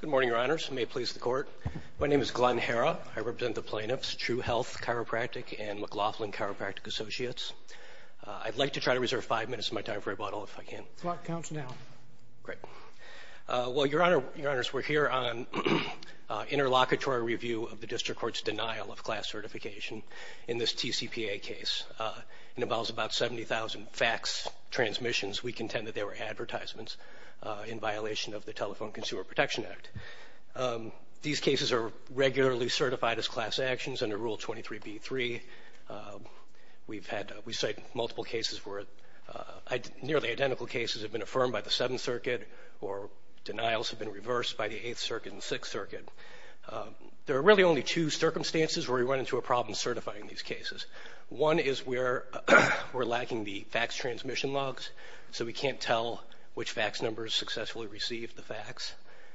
Good morning, Your Honors. May it please the Court. My name is Glenn Herra. I represent the plaintiffs, True Health Chiropractic and McLaughlin Chiropractic Associates. I'd like to try to reserve five minutes of my time for rebuttal, if I can. The clock counts now. Great. Well, Your Honors, we're here on interlocutory review of the District Court's denial of class certification in this TCPA case. It involves about 70,000 fax transmissions. We contend that they were advertisements in violation of the Telephone Consumer Protection Act. These cases are regularly certified as class actions under Rule 23b-3. We cite multiple cases where nearly identical cases have been affirmed by the Seventh Circuit or denials have been reversed by the Eighth Circuit and Sixth Circuit. There are really only two circumstances where we run into a problem certifying these cases. One is we're lacking the fax transmission logs, so we can't tell which fax numbers successfully received the fax.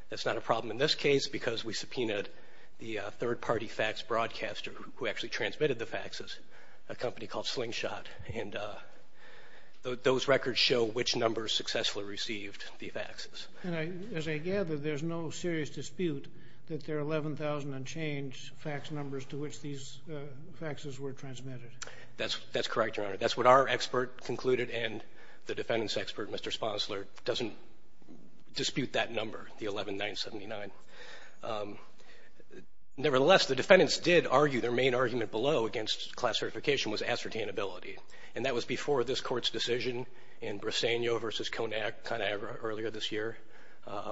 That's not a problem in this case because we subpoenaed the third-party fax broadcaster who actually transmitted the faxes, a company called Slingshot, and those records show which numbers successfully received the faxes. And as I gather, there's no serious dispute that there are 11,000 unchanged fax numbers to which these faxes were transmitted. That's correct, Your Honor. That's what our expert concluded, and the defendant's expert, Mr. Sponsler, doesn't dispute that number, the 11,979. Nevertheless, the defendants did argue their main argument below against class certification was ascertainability, and that was before this Court's decision in Briseno v. Conagra earlier this year,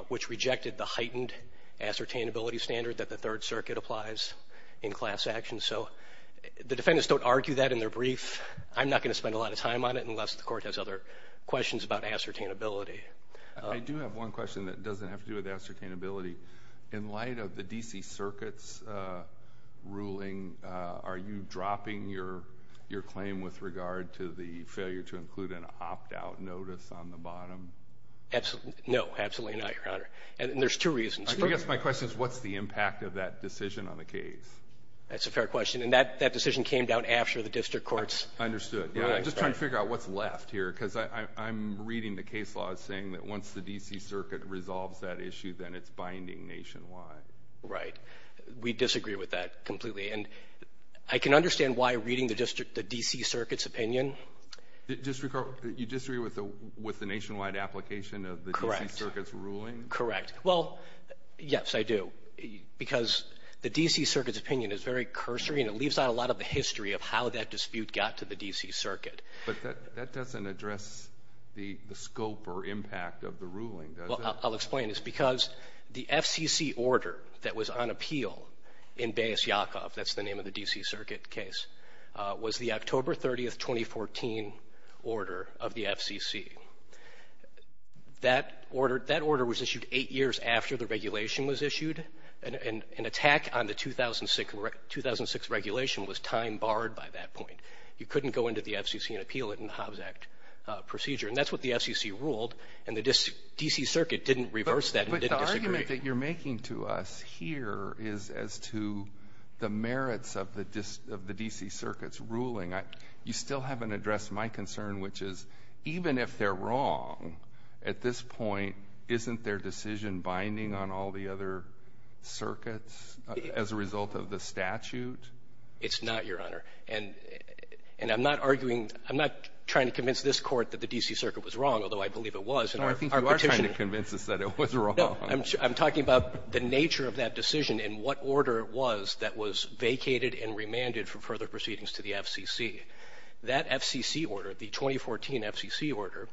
which rejected the heightened ascertainability standard that the Third Circuit applies in class action. So the defendants don't argue that in their brief. I'm not going to spend a lot of time on it unless the Court has other questions about ascertainability. I do have one question that doesn't have to do with ascertainability. In light of the D.C. Circuit's ruling, are you dropping your claim with regard to the failure to include an opt-out notice on the bottom? No, absolutely not, Your Honor, and there's two reasons. I guess my question is what's the impact of that decision on the case? That's a fair question, and that decision came down after the District Court's ruling. I understood. I'm just trying to figure out what's left here because I'm reading the case law as saying that once the D.C. Circuit resolves that issue, then it's binding nationwide. Right. We disagree with that completely, and I can understand why reading the D.C. Circuit's opinion. You disagree with the nationwide application of the D.C. Circuit's ruling? Correct. Well, yes, I do, because the D.C. Circuit's opinion is very cursory, and it leaves out a lot of the history of how that dispute got to the D.C. Circuit. Well, I'll explain. It's because the FCC order that was on appeal in Baez-Yakov, that's the name of the D.C. Circuit case, was the October 30, 2014 order of the FCC. That order was issued eight years after the regulation was issued, and an attack on the 2006 regulation was time barred by that point. You couldn't go into the FCC and appeal it in the Hobbs Act procedure, and that's what the FCC ruled, and the D.C. Circuit didn't reverse that and didn't disagree. But the argument that you're making to us here is as to the merits of the D.C. Circuit's ruling. You still haven't addressed my concern, which is even if they're wrong, at this point isn't their decision binding on all the other circuits as a result of the statute? It's not, Your Honor. And I'm not arguing, I'm not trying to convince this Court that the D.C. Circuit was wrong, although I believe it was in our petition. No, I think you are trying to convince us that it was wrong. No, I'm talking about the nature of that decision and what order it was that was vacated and remanded for further proceedings to the FCC. That FCC order, the 2014 FCC order,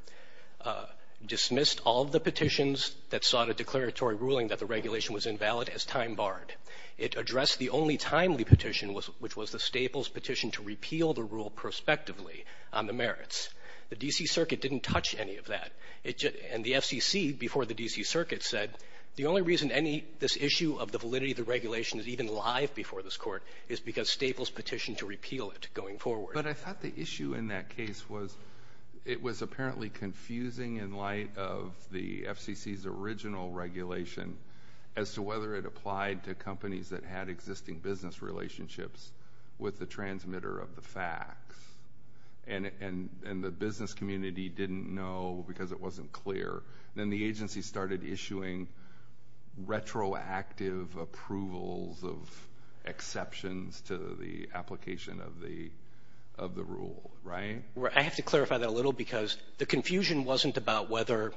dismissed all of the petitions that sought a declaratory ruling that the regulation was invalid as time barred. It addressed the only timely petition, which was the Staples petition to repeal the rule prospectively on the merits. The D.C. Circuit didn't touch any of that. And the FCC, before the D.C. Circuit, said, the only reason this issue of the validity of the regulation is even live before this Court is because Staples petitioned to repeal it going forward. But I thought the issue in that case was it was apparently confusing in light of the FCC's original regulation as to whether it applied to companies that had existing business relationships with the transmitter of the facts. And the business community didn't know because it wasn't clear. Then the agency started issuing retroactive approvals of exceptions to the application of the rule, right? I have to clarify that a little because the confusion wasn't about whether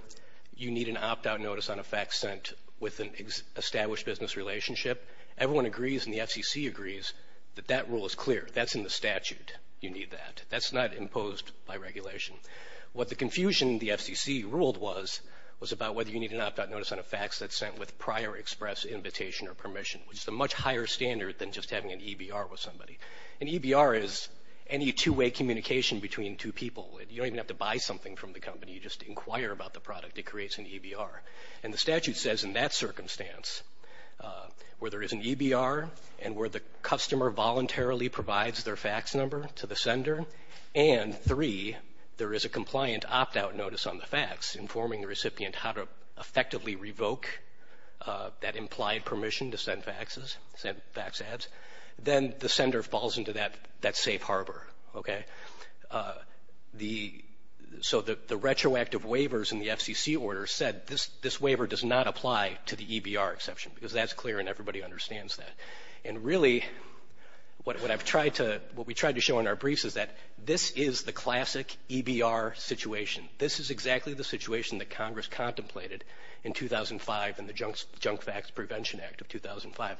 you need an opt-out notice on a fact sent with an established business relationship. Everyone agrees, and the FCC agrees, that that rule is clear. That's in the statute. You need that. That's not imposed by regulation. What the confusion the FCC ruled was was about whether you need an opt-out notice on a fact that's sent with prior express invitation or permission, which is a much higher standard than just having an EBR with somebody. An EBR is any two-way communication between two people. You don't even have to buy something from the company. You just inquire about the product. It creates an EBR. And the statute says in that circumstance, where there is an EBR and where the customer voluntarily provides their fax number to the sender, and, three, there is a compliant opt-out notice on the fax informing the recipient how to effectively revoke that implied permission to send faxes, send fax ads, then the sender falls into that safe harbor, okay? So the retroactive waivers in the FCC order said this waiver does not apply to the EBR exception because that's clear and everybody understands that. And, really, what we tried to show in our briefs is that this is the classic EBR situation. This is exactly the situation that Congress contemplated in 2005 in the Junk Fax Prevention Act of 2005.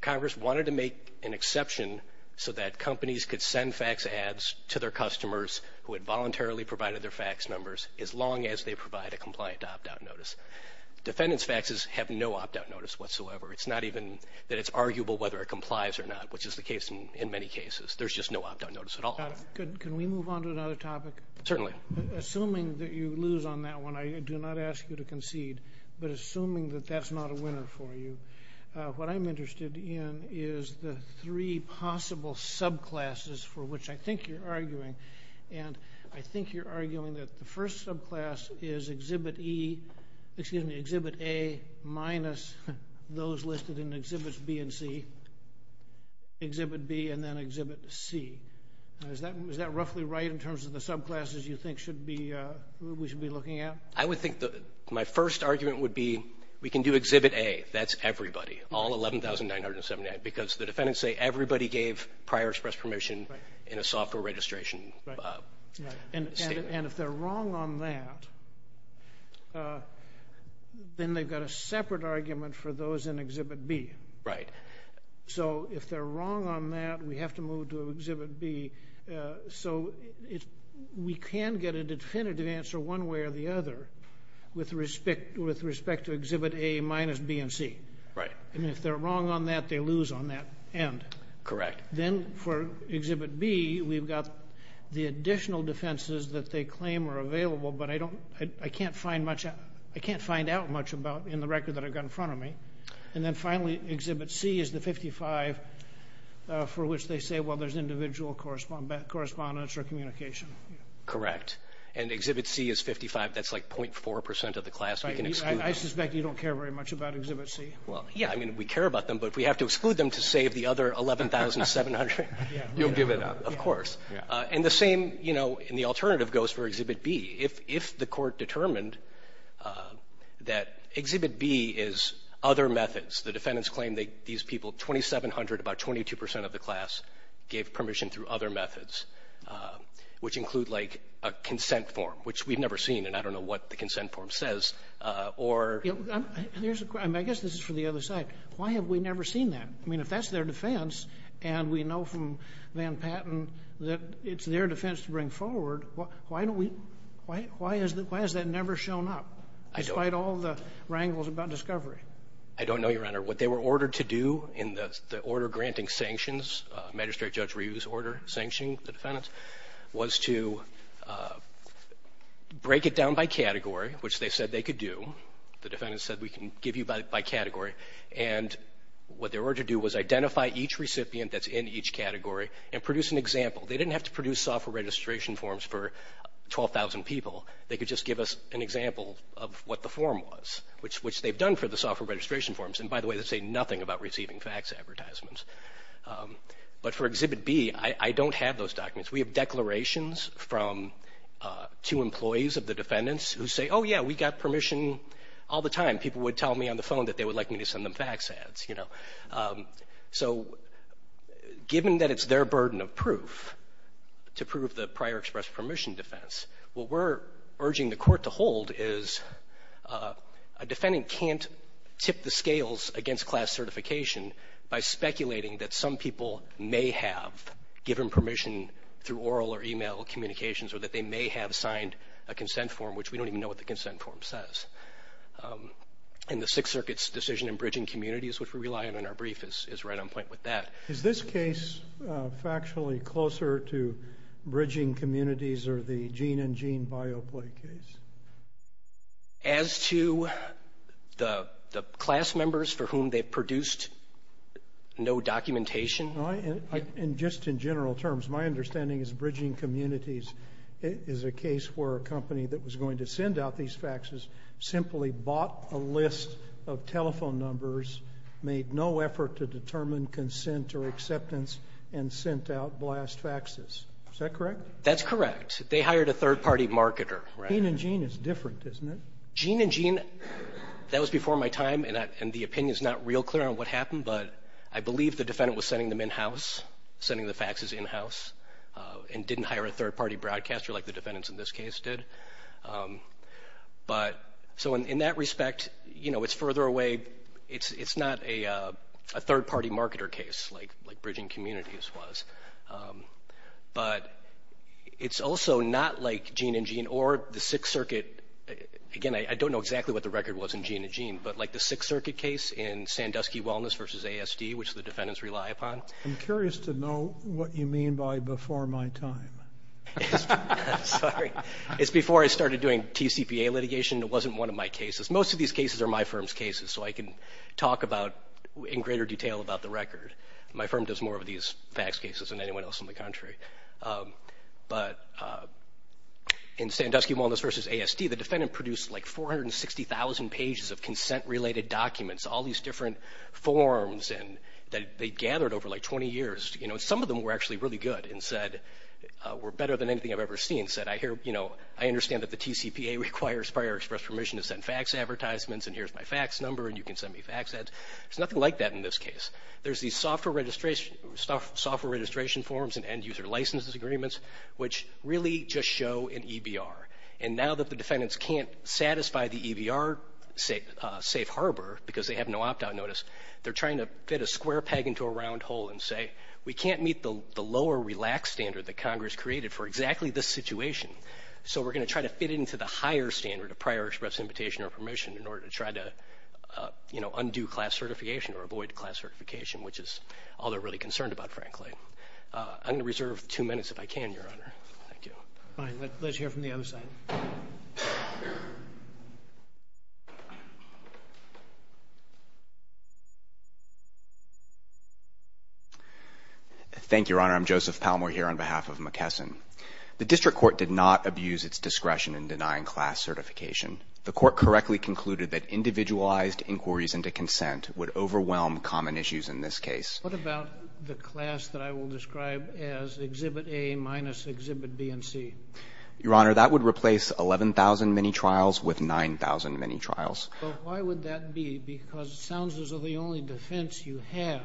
Congress wanted to make an exception so that companies could send fax ads to their customers who had voluntarily provided their fax numbers as long as they provide a compliant opt-out notice. Defendants' faxes have no opt-out notice whatsoever. It's not even that it's arguable whether it complies or not, which is the case in many cases. There's just no opt-out notice at all. Can we move on to another topic? Certainly. Assuming that you lose on that one, I do not ask you to concede, but assuming that that's not a winner for you, what I'm interested in is the three possible subclasses for which I think you're arguing. And I think you're arguing that the first subclass is Exhibit A minus those listed in Exhibits B and C, Exhibit B, and then Exhibit C. Is that roughly right in terms of the subclasses you think we should be looking at? I would think my first argument would be we can do Exhibit A, that's everybody, all 11,979, because the defendants say everybody gave prior express permission in a software registration statement. And if they're wrong on that, then they've got a separate argument for those in Exhibit B. Right. So if they're wrong on that, we have to move to Exhibit B. So we can get a definitive answer one way or the other with respect to Exhibit A minus B and C. Right. And if they're wrong on that, they lose on that end. Correct. Then for Exhibit B, we've got the additional defenses that they claim are available, but I can't find out much about in the record that I've got in front of me. And then finally, Exhibit C is the 55 for which they say, well, there's individual correspondence or communication. Correct. And Exhibit C is 55. That's like 0.4 percent of the class we can exclude. I suspect you don't care very much about Exhibit C. Well, yeah, I mean, we care about them, but if we have to exclude them to save the other 11,700, you'll give it up. Of course. And the same, you know, and the alternative goes for Exhibit B. If the Court determined that Exhibit B is other methods, the defendants claim that these people, 2,700, about 22 percent of the class, gave permission through other methods, which include like a consent form, which we've never seen and I don't know what the consent form says, or. I guess this is for the other side. Why have we never seen that? I mean, if that's their defense and we know from Van Patten that it's their defense to bring forward, why has that never shown up, despite all the wrangles about discovery? I don't know, Your Honor. What they were ordered to do in the order granting sanctions, Magistrate Judge Reeves' order sanctioning the defendants, was to break it down by category, which they said they could do. The defendants said we can give you by category. And what they were to do was identify each recipient that's in each category and produce an example. They didn't have to produce software registration forms for 12,000 people. They could just give us an example of what the form was, which they've done for the software registration forms. And by the way, they say nothing about receiving fax advertisements. But for Exhibit B, I don't have those documents. We have declarations from two employees of the defendants who say, oh, yeah, we got permission all the time. People would tell me on the phone that they would like me to send them fax ads, you know. So given that it's their burden of proof to prove the prior express permission defense, what we're urging the court to hold is a defendant can't tip the scales against class certification by speculating that some people may have given permission through oral or e-mail communications or that they may have signed a consent form, which we don't even know what the consent form says. And the Sixth Circuit's decision in bridging communities, which we rely on in our brief, is right on point with that. Is this case factually closer to bridging communities or the gene and gene bioplay case? As to the class members for whom they produced no documentation? Just in general terms, my understanding is bridging communities is a case where a company that was going to send out these faxes simply bought a list of telephone numbers, made no effort to determine consent or acceptance, and sent out blast faxes. Is that correct? That's correct. They hired a third-party marketer. Gene and gene is different, isn't it? Gene and gene, that was before my time, and the opinion's not real clear on what happened, but I believe the defendant was sending them in-house, sending the faxes in-house, and didn't hire a third-party broadcaster like the defendants in this case did. So in that respect, it's further away. It's not a third-party marketer case like bridging communities was, but it's also not like gene and gene or the Sixth Circuit. Again, I don't know exactly what the record was in gene and gene, but like the Sixth Circuit case in Sandusky Wellness versus ASD, which the defendants rely upon. I'm curious to know what you mean by before my time. Sorry. It's before I started doing TCPA litigation. It wasn't one of my cases. Most of these cases are my firm's cases, so I can talk in greater detail about the record. My firm does more of these fax cases than anyone else in the country. But in Sandusky Wellness versus ASD, the defendant produced like 460,000 pages of consent-related documents, all these different forms that they'd gathered over like 20 years. Some of them were actually really good and said were better than anything I've ever seen, said I understand that the TCPA requires prior express permission to send fax advertisements and here's my fax number and you can send me fax ads. There's nothing like that in this case. There's these software registration forms and end-user licenses agreements, which really just show an EBR. And now that the defendants can't satisfy the EBR safe harbor because they have no opt-out notice, they're trying to fit a square peg into a round hole and say, we can't meet the lower relaxed standard that Congress created for exactly this situation, so we're going to try to fit it into the higher standard of prior express invitation or permission in order to try to undo class certification or avoid class certification, which is all they're really concerned about, frankly. I'm going to reserve two minutes if I can, Your Honor. Thank you. Fine. Let's hear from the other side. Thank you, Your Honor. I'm Joseph Palmore here on behalf of McKesson. The district court did not abuse its discretion in denying class certification. The court correctly concluded that individualized inquiries into consent would overwhelm common issues in this case. What about the class that I will describe as Exhibit A minus Exhibit B and C? Your Honor, that would replace 11,000 mini-trials with 9,000 mini-trials. Well, why would that be? Because it sounds as though the only defense you have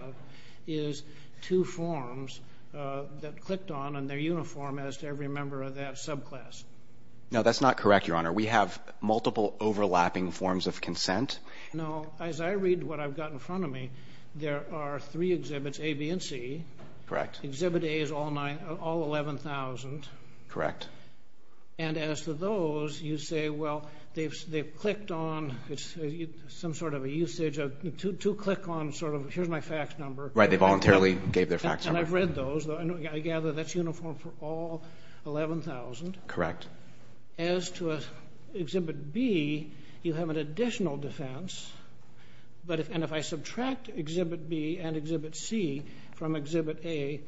is two forms that clicked on and they're uniform as to every member of that subclass. No, that's not correct, Your Honor. We have multiple overlapping forms of consent. No, as I read what I've got in front of me, there are three exhibits, A, B, and C. Correct. Exhibit A is all 11,000. Correct. And as to those, you say, well, they've clicked on some sort of a usage, a two-click on sort of here's my fax number. Right, they voluntarily gave their fax number. And I've read those. I gather that's uniform for all 11,000. Correct. Your Honor, as to Exhibit B, you have an additional defense. And if I subtract Exhibit B and Exhibit C from Exhibit A,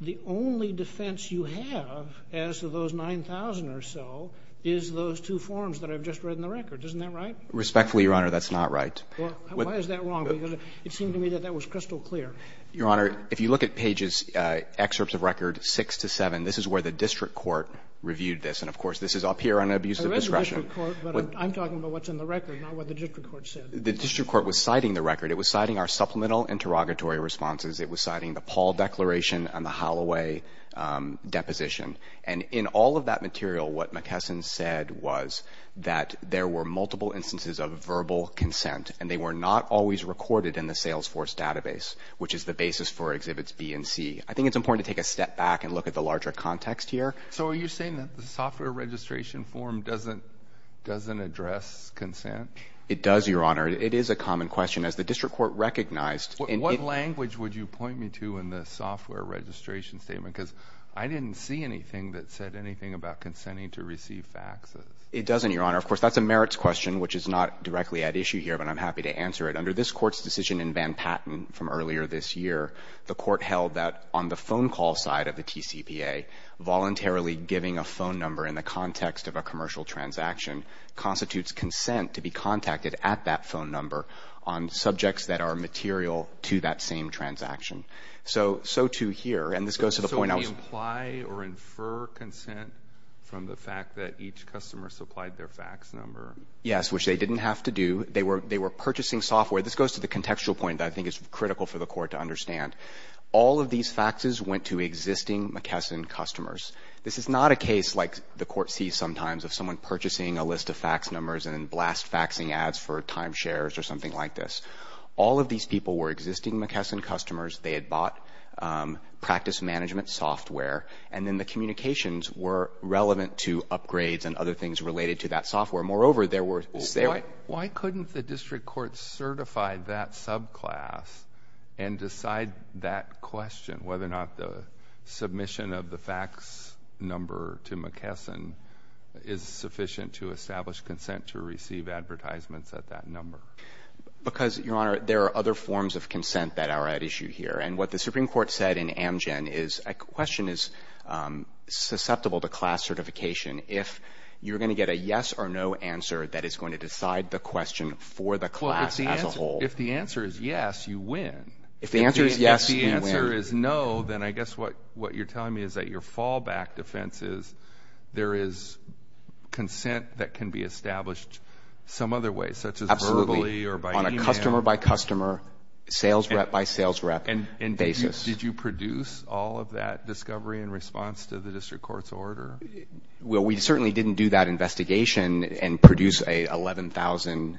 the only defense you have as to those 9,000 or so is those two forms that I've just read in the record. Isn't that right? Respectfully, Your Honor, that's not right. Why is that wrong? Because it seemed to me that that was crystal clear. Your Honor, if you look at pages, excerpts of record 6 to 7, this is where the district court reviewed this. And, of course, this is up here on abusive discretion. I read the district court, but I'm talking about what's in the record, not what the district court said. The district court was citing the record. It was citing our supplemental interrogatory responses. It was citing the Paul Declaration and the Holloway Deposition. And in all of that material, what McKesson said was that there were multiple instances of verbal consent, and they were not always recorded in the Salesforce database, which is the basis for Exhibits B and C. I think it's important to take a step back and look at the larger context here. So are you saying that the software registration form doesn't address consent? It does, Your Honor. It is a common question, as the district court recognized. What language would you point me to in the software registration statement? Because I didn't see anything that said anything about consenting to receive faxes. It doesn't, Your Honor. Of course, that's a merits question, which is not directly at issue here, but I'm happy to answer it. Under this court's decision in Van Patten from earlier this year, the court held that on the phone call side of the TCPA, voluntarily giving a phone number in the context of a commercial transaction constitutes consent to be contacted at that phone number on subjects that are material to that same transaction. So, too, here. And this goes to the point I was – So we apply or infer consent from the fact that each customer supplied their fax number? Yes, which they didn't have to do. They were purchasing software. This goes to the contextual point that I think is critical for the court to understand. All of these faxes went to existing McKesson customers. This is not a case, like the court sees sometimes, of someone purchasing a list of fax numbers and then blast faxing ads for timeshares or something like this. All of these people were existing McKesson customers. They had bought practice management software, and then the communications were relevant to upgrades and other things related to that software. Moreover, there were – So why couldn't the district court certify that subclass and decide that question, whether or not the submission of the fax number to McKesson is sufficient to establish consent to receive advertisements at that number? Because, Your Honor, there are other forms of consent that are at issue here. And what the Supreme Court said in Amgen is a question is susceptible to class certification if you're going to get a yes or no answer that is going to decide the question for the class as a whole. Well, if the answer is yes, you win. If the answer is yes, you win. If the answer is no, then I guess what you're telling me is that your fallback defense is there is consent that can be established some other way, such as verbally or by email. Absolutely, on a customer-by-customer, sales rep-by-sales rep basis. And did you produce all of that discovery in response to the district court's order? Well, we certainly didn't do that investigation and produce 11,000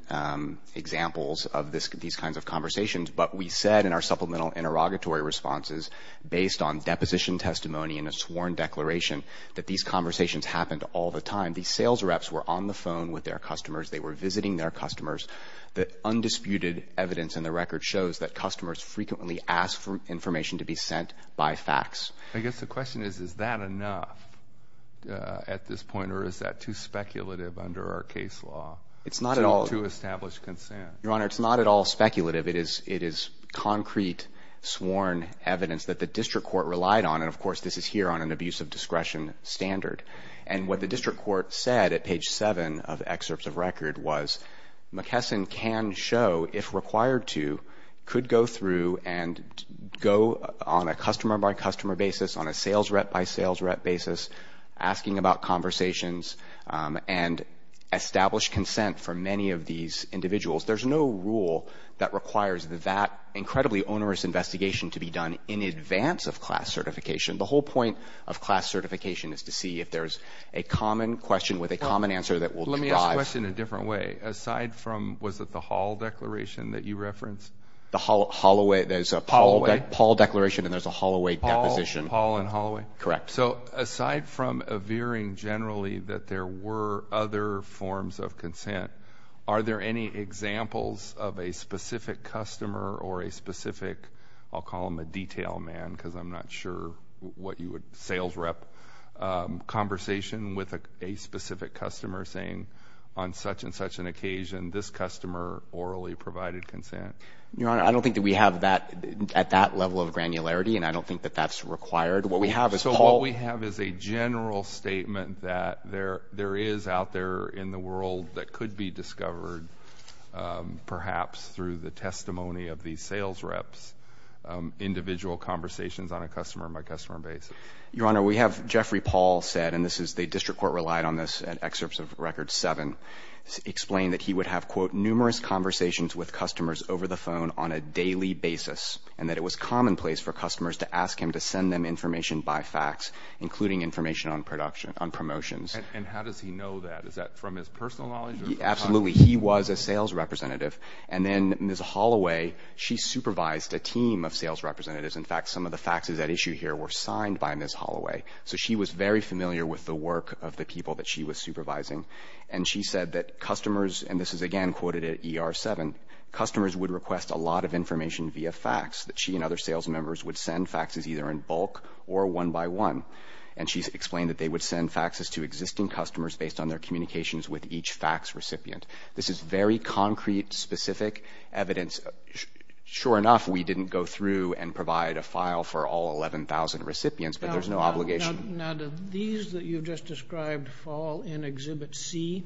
examples of these kinds of conversations. But we said in our supplemental interrogatory responses, based on deposition testimony and a sworn declaration, that these conversations happened all the time. These sales reps were on the phone with their customers. They were visiting their customers. The undisputed evidence in the record shows that customers frequently ask for information to be sent by fax. I guess the question is, is that enough at this point, or is that too speculative under our case law to establish consent? Your Honor, it's not at all speculative. It is concrete, sworn evidence that the district court relied on. And, of course, this is here on an abuse of discretion standard. And what the district court said at page 7 of excerpts of record was, McKesson can show, if required to, could go through and go on a customer-by-customer basis, on a sales rep-by-sales rep basis, asking about conversations and establish consent for many of these individuals. There's no rule that requires that incredibly onerous investigation to be done in advance of class certification. The whole point of class certification is to see if there's a common question with a common answer that will drive. Let me ask the question in a different way. Aside from, was it the Hall declaration that you referenced? The Hall, Holloway. There's a Hall declaration and there's a Holloway deposition. Hall and Holloway? Correct. So, aside from veering generally that there were other forms of consent, are there any examples of a specific customer or a specific, I'll call them a detail man because I'm not sure what you would, sales rep conversation with a specific customer saying, on such and such an occasion, this customer orally provided consent? Your Honor, I don't think that we have that at that level of granularity and I don't think that that's required. What we have is Paul. So, what we have is a general statement that there is out there in the world that could be discovered perhaps through the testimony of these sales reps, individual conversations on a customer-by-customer basis. Your Honor, we have Jeffrey Paul said, and the district court relied on this in excerpts of record seven, explained that he would have, quote, numerous conversations with customers over the phone on a daily basis and that it was commonplace for customers to ask him to send them information by fax, including information on promotions. And how does he know that? Is that from his personal knowledge? Absolutely. He was a sales representative. And then Ms. Holloway, she supervised a team of sales representatives. In fact, some of the faxes at issue here were signed by Ms. Holloway. So, she was very familiar with the work of the people that she was supervising. And she said that customers, and this is again quoted at ER seven, customers would request a lot of information via fax, that she and other sales members would send faxes either in bulk or one by one. And she explained that they would send faxes to existing customers based on their communications with each fax recipient. This is very concrete, specific evidence. Sure enough, we didn't go through and provide a file for all 11,000 recipients, but there's no obligation. Now, do these that you've just described fall in Exhibit C?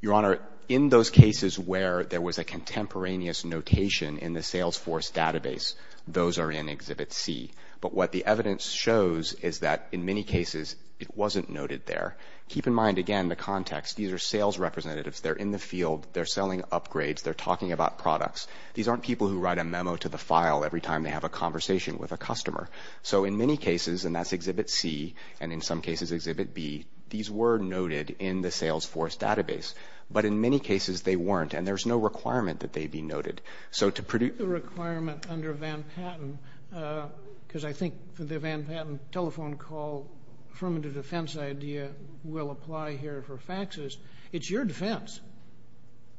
Your Honor, in those cases where there was a contemporaneous notation in the Salesforce database, those are in Exhibit C. But what the evidence shows is that in many cases it wasn't noted there. Keep in mind, again, the context. These are sales representatives. They're in the field. They're selling upgrades. They're talking about products. These aren't people who write a memo to the file every time they have a conversation with a customer. So in many cases, and that's Exhibit C, and in some cases Exhibit B, these were noted in the Salesforce database. But in many cases they weren't, and there's no requirement that they be noted. So to produce the requirement under Van Patten, because I think the Van Patten telephone call affirmative defense idea will apply here for faxes, it's your defense.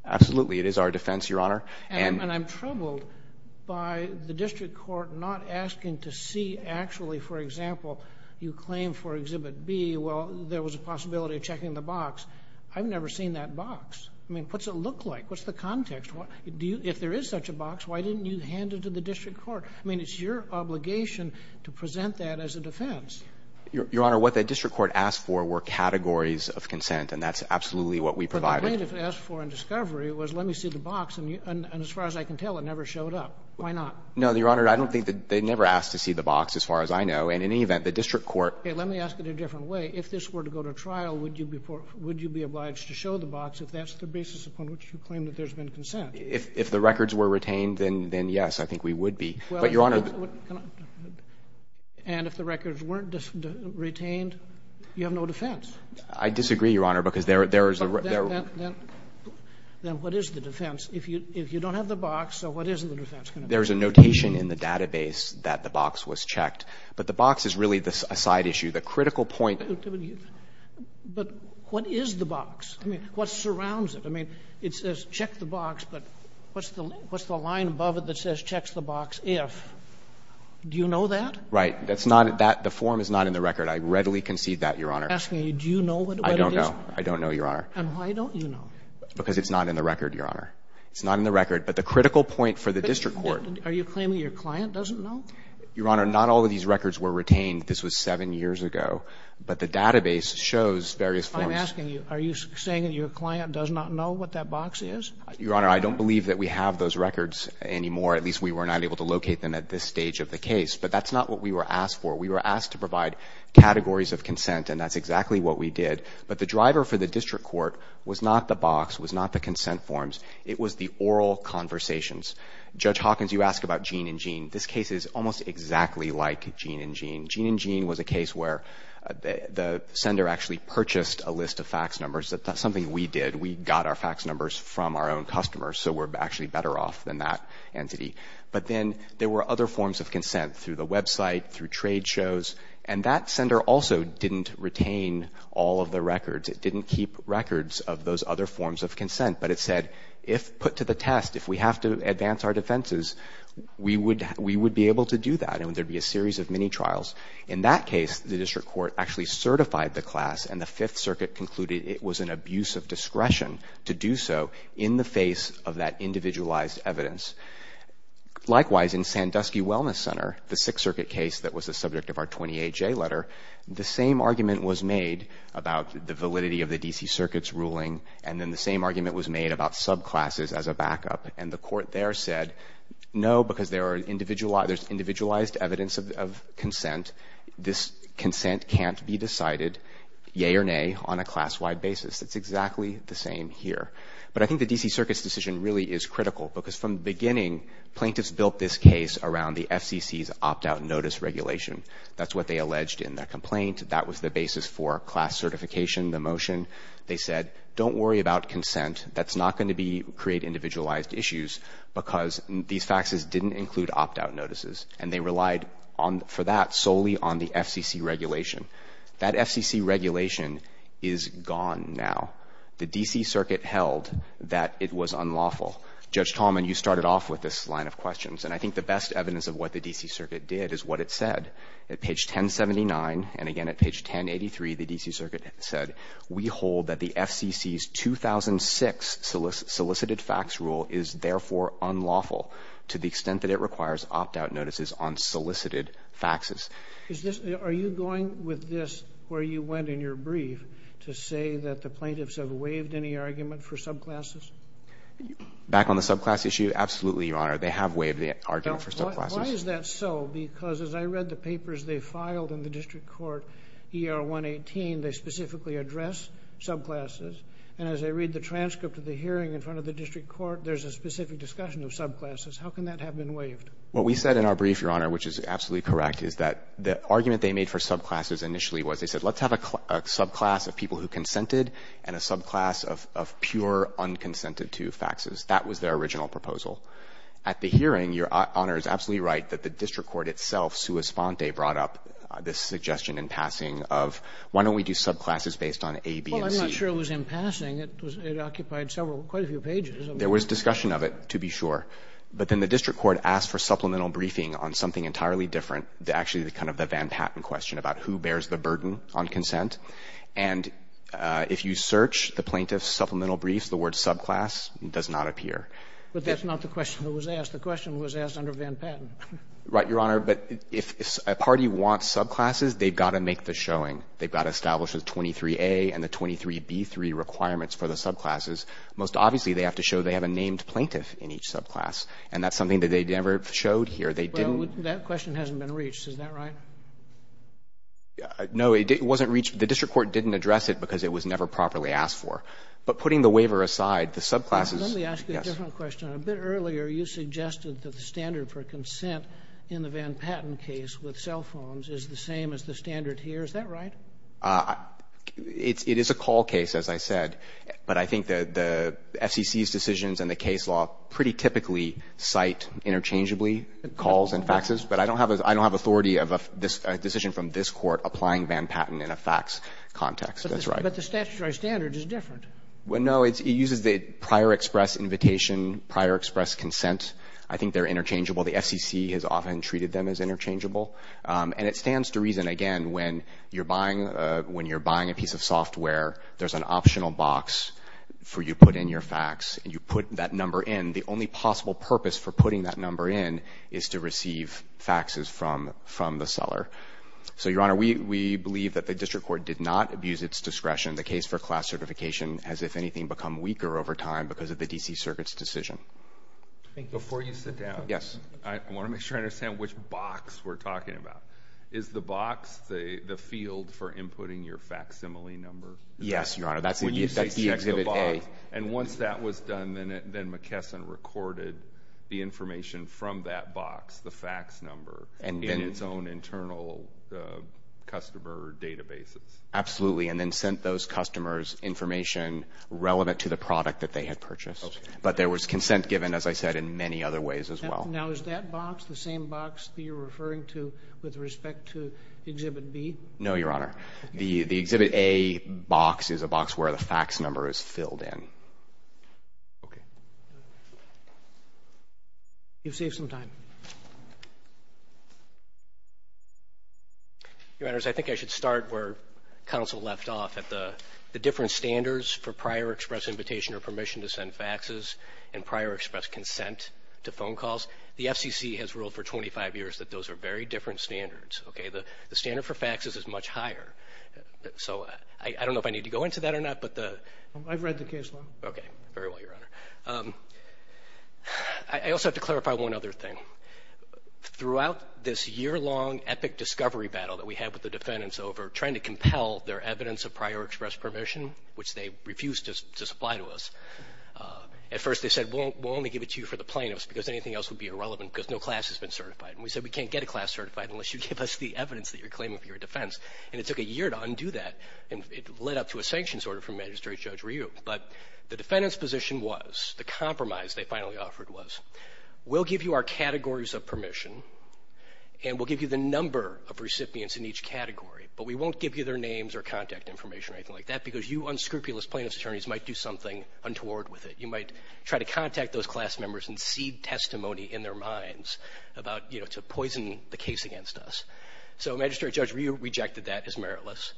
Absolutely. It is our defense, Your Honor. And I'm troubled by the district court not asking to see actually, for example, you claim for Exhibit B, well, there was a possibility of checking the box. I've never seen that box. I mean, what's it look like? What's the context? If there is such a box, why didn't you hand it to the district court? I mean, it's your obligation to present that as a defense. Your Honor, what the district court asked for were categories of consent, and that's absolutely what we provided. What the plaintiff asked for in discovery was let me see the box, and as far as I can tell it never showed up. Why not? No, Your Honor, I don't think that they never asked to see the box as far as I know, and in any event, the district court. Okay, let me ask it a different way. If this were to go to trial, would you be obliged to show the box if that's the basis upon which you claim that there's been consent? If the records were retained, then yes, I think we would be. But, Your Honor. And if the records weren't retained, you have no defense. I disagree, Your Honor, because there is a. Then what is the defense? If you don't have the box, what is the defense going to be? There's a notation in the database that the box was checked. But the box is really a side issue. The critical point. But what is the box? I mean, what surrounds it? I mean, it says check the box, but what's the line above it that says check the box if? Do you know that? Right. That's not at that. The form is not in the record. I readily concede that, Your Honor. I'm asking you, do you know what it is? I don't know. I don't know, Your Honor. And why don't you know? Because it's not in the record, Your Honor. It's not in the record. But the critical point for the district court. Are you claiming your client doesn't know? Your Honor, not all of these records were retained. This was 7 years ago. But the database shows various forms. I'm asking you, are you saying that your client does not know what that box is? Your Honor, I don't believe that we have those records anymore. At least we were not able to locate them at this stage of the case. But that's not what we were asked for. We were asked to provide categories of consent, and that's exactly what we did. But the driver for the district court was not the box, was not the consent forms. It was the oral conversations. Judge Hawkins, you asked about Gene & Gene. This case is almost exactly like Gene & Gene. Gene & Gene was a case where the sender actually purchased a list of fax numbers. That's something we did. We got our fax numbers from our own customers, so we're actually better off than that entity. But then there were other forms of consent through the website, through trade shows. And that sender also didn't retain all of the records. It didn't keep records of those other forms of consent. But it said, if put to the test, if we have to advance our defenses, we would be able to do that. And there would be a series of mini-trials. In that case, the district court actually certified the class, and the Fifth Circuit concluded it was an abuse of discretion to do so in the face of that individualized evidence. Likewise, in Sandusky Wellness Center, the Sixth Circuit case that was the subject of our 28J letter, the same argument was made about the validity of the D.C. Circuit's ruling, and then the same argument was made about subclasses as a backup. And the court there said, no, because there's individualized evidence of consent. This consent can't be decided, yay or nay, on a class-wide basis. It's exactly the same here. But I think the D.C. Circuit's decision really is critical, because from the beginning, plaintiffs built this case around the FCC's opt-out notice regulation. That's what they alleged in their complaint. That was the basis for class certification, the motion. They said, don't worry about consent. That's not going to create individualized issues, because these faxes didn't include opt-out notices, and they relied for that solely on the FCC regulation. That FCC regulation is gone now. The D.C. Circuit held that it was unlawful. Judge Tallman, you started off with this line of questions, and I think the best evidence of what the D.C. Circuit did is what it said. At page 1079, and again at page 1083, the D.C. Circuit said, we hold that the FCC's 2006 solicited fax rule is therefore unlawful to the extent that it requires opt-out notices on solicited faxes. Are you going with this, where you went in your brief, to say that the plaintiffs have waived any argument for subclasses? Back on the subclass issue, absolutely, Your Honor. They have waived the argument for subclasses. Why is that so? Because as I read the papers they filed in the district court, ER 118, they specifically address subclasses. And as I read the transcript of the hearing in front of the district court, there's a specific discussion of subclasses. How can that have been waived? What we said in our brief, Your Honor, which is absolutely correct, is that the argument they made for subclasses initially was they said, let's have a subclass of people who consented and a subclass of pure unconsented-to faxes. That was their original proposal. At the hearing, Your Honor is absolutely right that the district court itself, sua sponte, brought up this suggestion in passing of, why don't we do subclasses based on A, B, and C? Well, I'm not sure it was in passing. It occupied several, quite a few pages. There was discussion of it, to be sure. But then the district court asked for supplemental briefing on something entirely different, actually kind of the Van Patten question about who bears the burden on consent. And if you search the plaintiff's supplemental brief, the word subclass does not appear. But that's not the question that was asked. The question was asked under Van Patten. Right, Your Honor. But if a party wants subclasses, they've got to make the showing. They've got to establish the 23A and the 23B3 requirements for the subclasses. Most obviously, they have to show they have a named plaintiff in each subclass. And that's something that they never showed here. They didn't. Well, that question hasn't been reached. Is that right? No, it wasn't reached. The district court didn't address it because it was never properly asked for. But putting the waiver aside, the subclasses, yes. Let me ask you a different question. A bit earlier, you suggested that the standard for consent in the Van Patten case with cell phones is the same as the standard here. Is that right? It is a call case, as I said. But I think the FCC's decisions and the case law pretty typically cite interchangeably calls and faxes. But I don't have authority of a decision from this Court applying Van Patten in a fax context. That's right. But the statutory standard is different. Well, no. It uses the prior express invitation, prior express consent. I think they're interchangeable. The FCC has often treated them as interchangeable. And it stands to reason, again, when you're buying a piece of software, there's an optional box for you to put in your fax. And you put that number in. The only possible purpose for putting that number in is to receive faxes from the seller. So, Your Honor, we believe that the district court did not abuse its discretion. The case for class certification has, if anything, become weaker over time because of the D.C. Circuit's decision. Before you sit down, I want to make sure I understand which box we're talking about. Is the box the field for inputting your facsimile number? Yes, Your Honor. That's the Exhibit A. And once that was done, then McKesson recorded the information from that box, the fax number, in its own internal customer databases? Absolutely. And then sent those customers information relevant to the product that they had purchased. But there was consent given, as I said, in many other ways as well. Now, is that box the same box that you're referring to with respect to Exhibit B? No, Your Honor. The Exhibit A box is a box where the fax number is filled in. Okay. You've saved some time. Your Honors, I think I should start where counsel left off, at the different standards for prior express invitation or permission to send faxes and prior express consent to phone calls. The FCC has ruled for 25 years that those are very different standards. Okay? The standard for faxes is much higher. So I don't know if I need to go into that or not. I've read the case law. Okay. Very well, Your Honor. I also have to clarify one other thing. Throughout this year-long epic discovery battle that we had with the defendants over trying to compel their evidence of prior express permission, which they refused to supply to us, at first they said, we'll only give it to you for the plaintiffs because anything else would be irrelevant because no class has been certified. And we said, we can't get a class certified unless you give us the evidence that you're claiming for your defense. And it took a year to undo that, and it led up to a sanctions order from Magistrate Judge Ryu. But the defendants' position was, the compromise they finally offered was, we'll give you our categories of permission and we'll give you the number of recipients in each category, but we won't give you their names or contact information or anything like that because you unscrupulous plaintiffs' attorneys might do something untoward with it. You might try to contact those class members and seed testimony in their minds about, you know, to poison the case against us. So Magistrate Judge Ryu rejected that as meritless.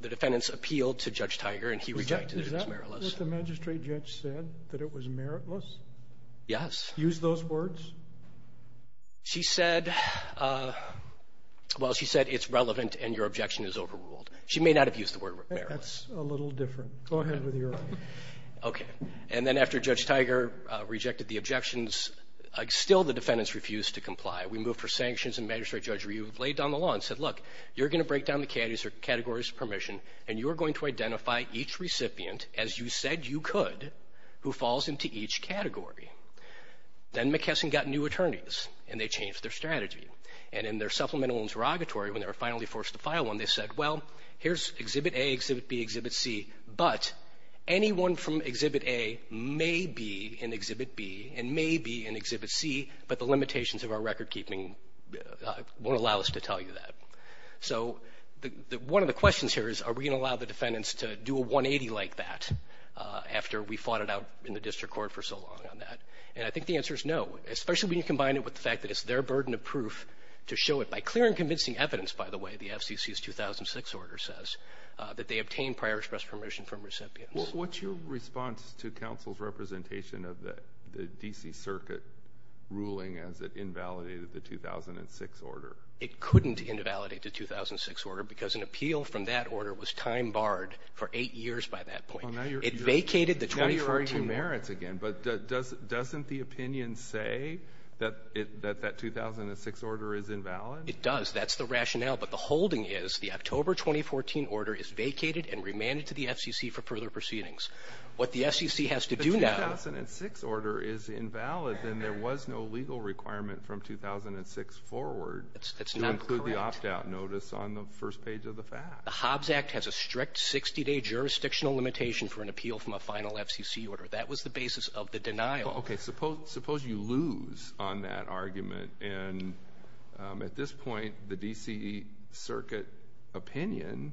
The defendants appealed to Judge Tiger and he rejected it as meritless. Is that what the Magistrate Judge said, that it was meritless? Yes. Used those words? She said, well, she said, it's relevant and your objection is overruled. She may not have used the word meritless. That's a little different. Go ahead with your argument. Okay. And then after Judge Tiger rejected the objections, still the defendants refused to comply. We moved for sanctions and Magistrate Judge Ryu laid down the law and said, look, you're going to break down the categories of permission and you're going to identify each recipient, as you said you could, who falls into each category. Then McKesson got new attorneys and they changed their strategy. And in their supplemental interrogatory, when they were finally forced to file one, they said, well, here's Exhibit A, Exhibit B, Exhibit C, but anyone from Exhibit A may be in Exhibit B and may be in Exhibit C, but the limitations of our recordkeeping won't allow us to tell you that. So one of the questions here is, are we going to allow the defendants to do a 180 like that after we fought it out in the district court for so long on that? And I think the answer is no, especially when you combine it with the fact that it's their burden of proof to show it by clear and convincing evidence, by the way, the FCC's 2006 order says that they obtained prior express permission from recipients. What's your response to counsel's representation of the D.C. Circuit ruling as it invalidated the 2006 order? It couldn't invalidate the 2006 order because an appeal from that order was time barred for eight years by that point. It vacated the 2014 order. Now you're arguing merits again, but doesn't the opinion say that that 2006 order is invalid? It does. That's the rationale, but the holding is the October 2014 order is vacated and remanded to the FCC for further proceedings. What the FCC has to do now is If the 2006 order is invalid, then there was no legal requirement from 2006 forward to include the opt-out notice on the first page of the fact. The Hobbs Act has a strict 60-day jurisdictional limitation for an appeal from a final FCC order. That was the basis of the denial. Okay, suppose you lose on that argument, and at this point the D.C. Circuit opinion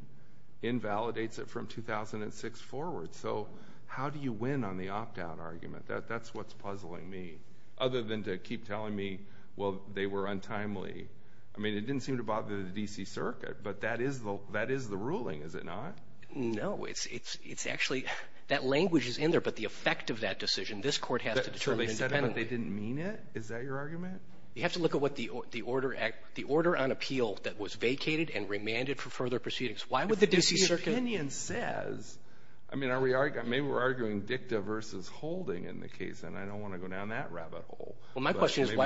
invalidates it from 2006 forward. So how do you win on the opt-out argument? That's what's puzzling me. Other than to keep telling me, well, they were untimely. I mean, it didn't seem to bother the D.C. Circuit, but that is the ruling, is it not? No, it's actually, that language is in there, but the effect of that decision, this court has to determine independently. So they said it, but they didn't mean it? Is that your argument? You have to look at what the order on appeal that was vacated and remanded for further proceedings. If the D.C. Circuit opinion says, I mean, maybe we're arguing dicta versus holding in the case, and I don't want to go down that rabbit hole, but maybe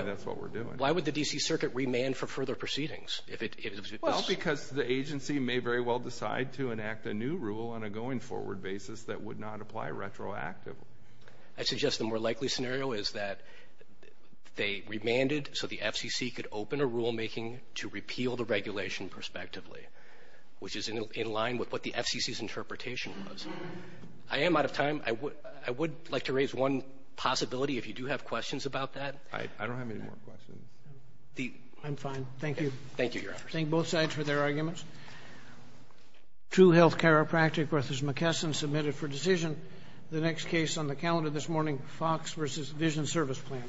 that's what we're doing. Well, my question is why would the D.C. Circuit remand for further proceedings? Well, because the agency may very well decide to enact a new rule on a going-forward basis that would not apply retroactively. I suggest the more likely scenario is that they remanded so the FCC could open a rulemaking to repeal the regulation prospectively, which is in line with what the FCC's interpretation was. I am out of time. I would like to raise one possibility, if you do have questions about that. I don't have any more questions. I'm fine. Thank you. Thank you, Your Honors. Thank both sides for their arguments. True Health Chiropractic v. McKesson submitted for decision. The next case on the calendar this morning, Fox v. Vision Service Plan.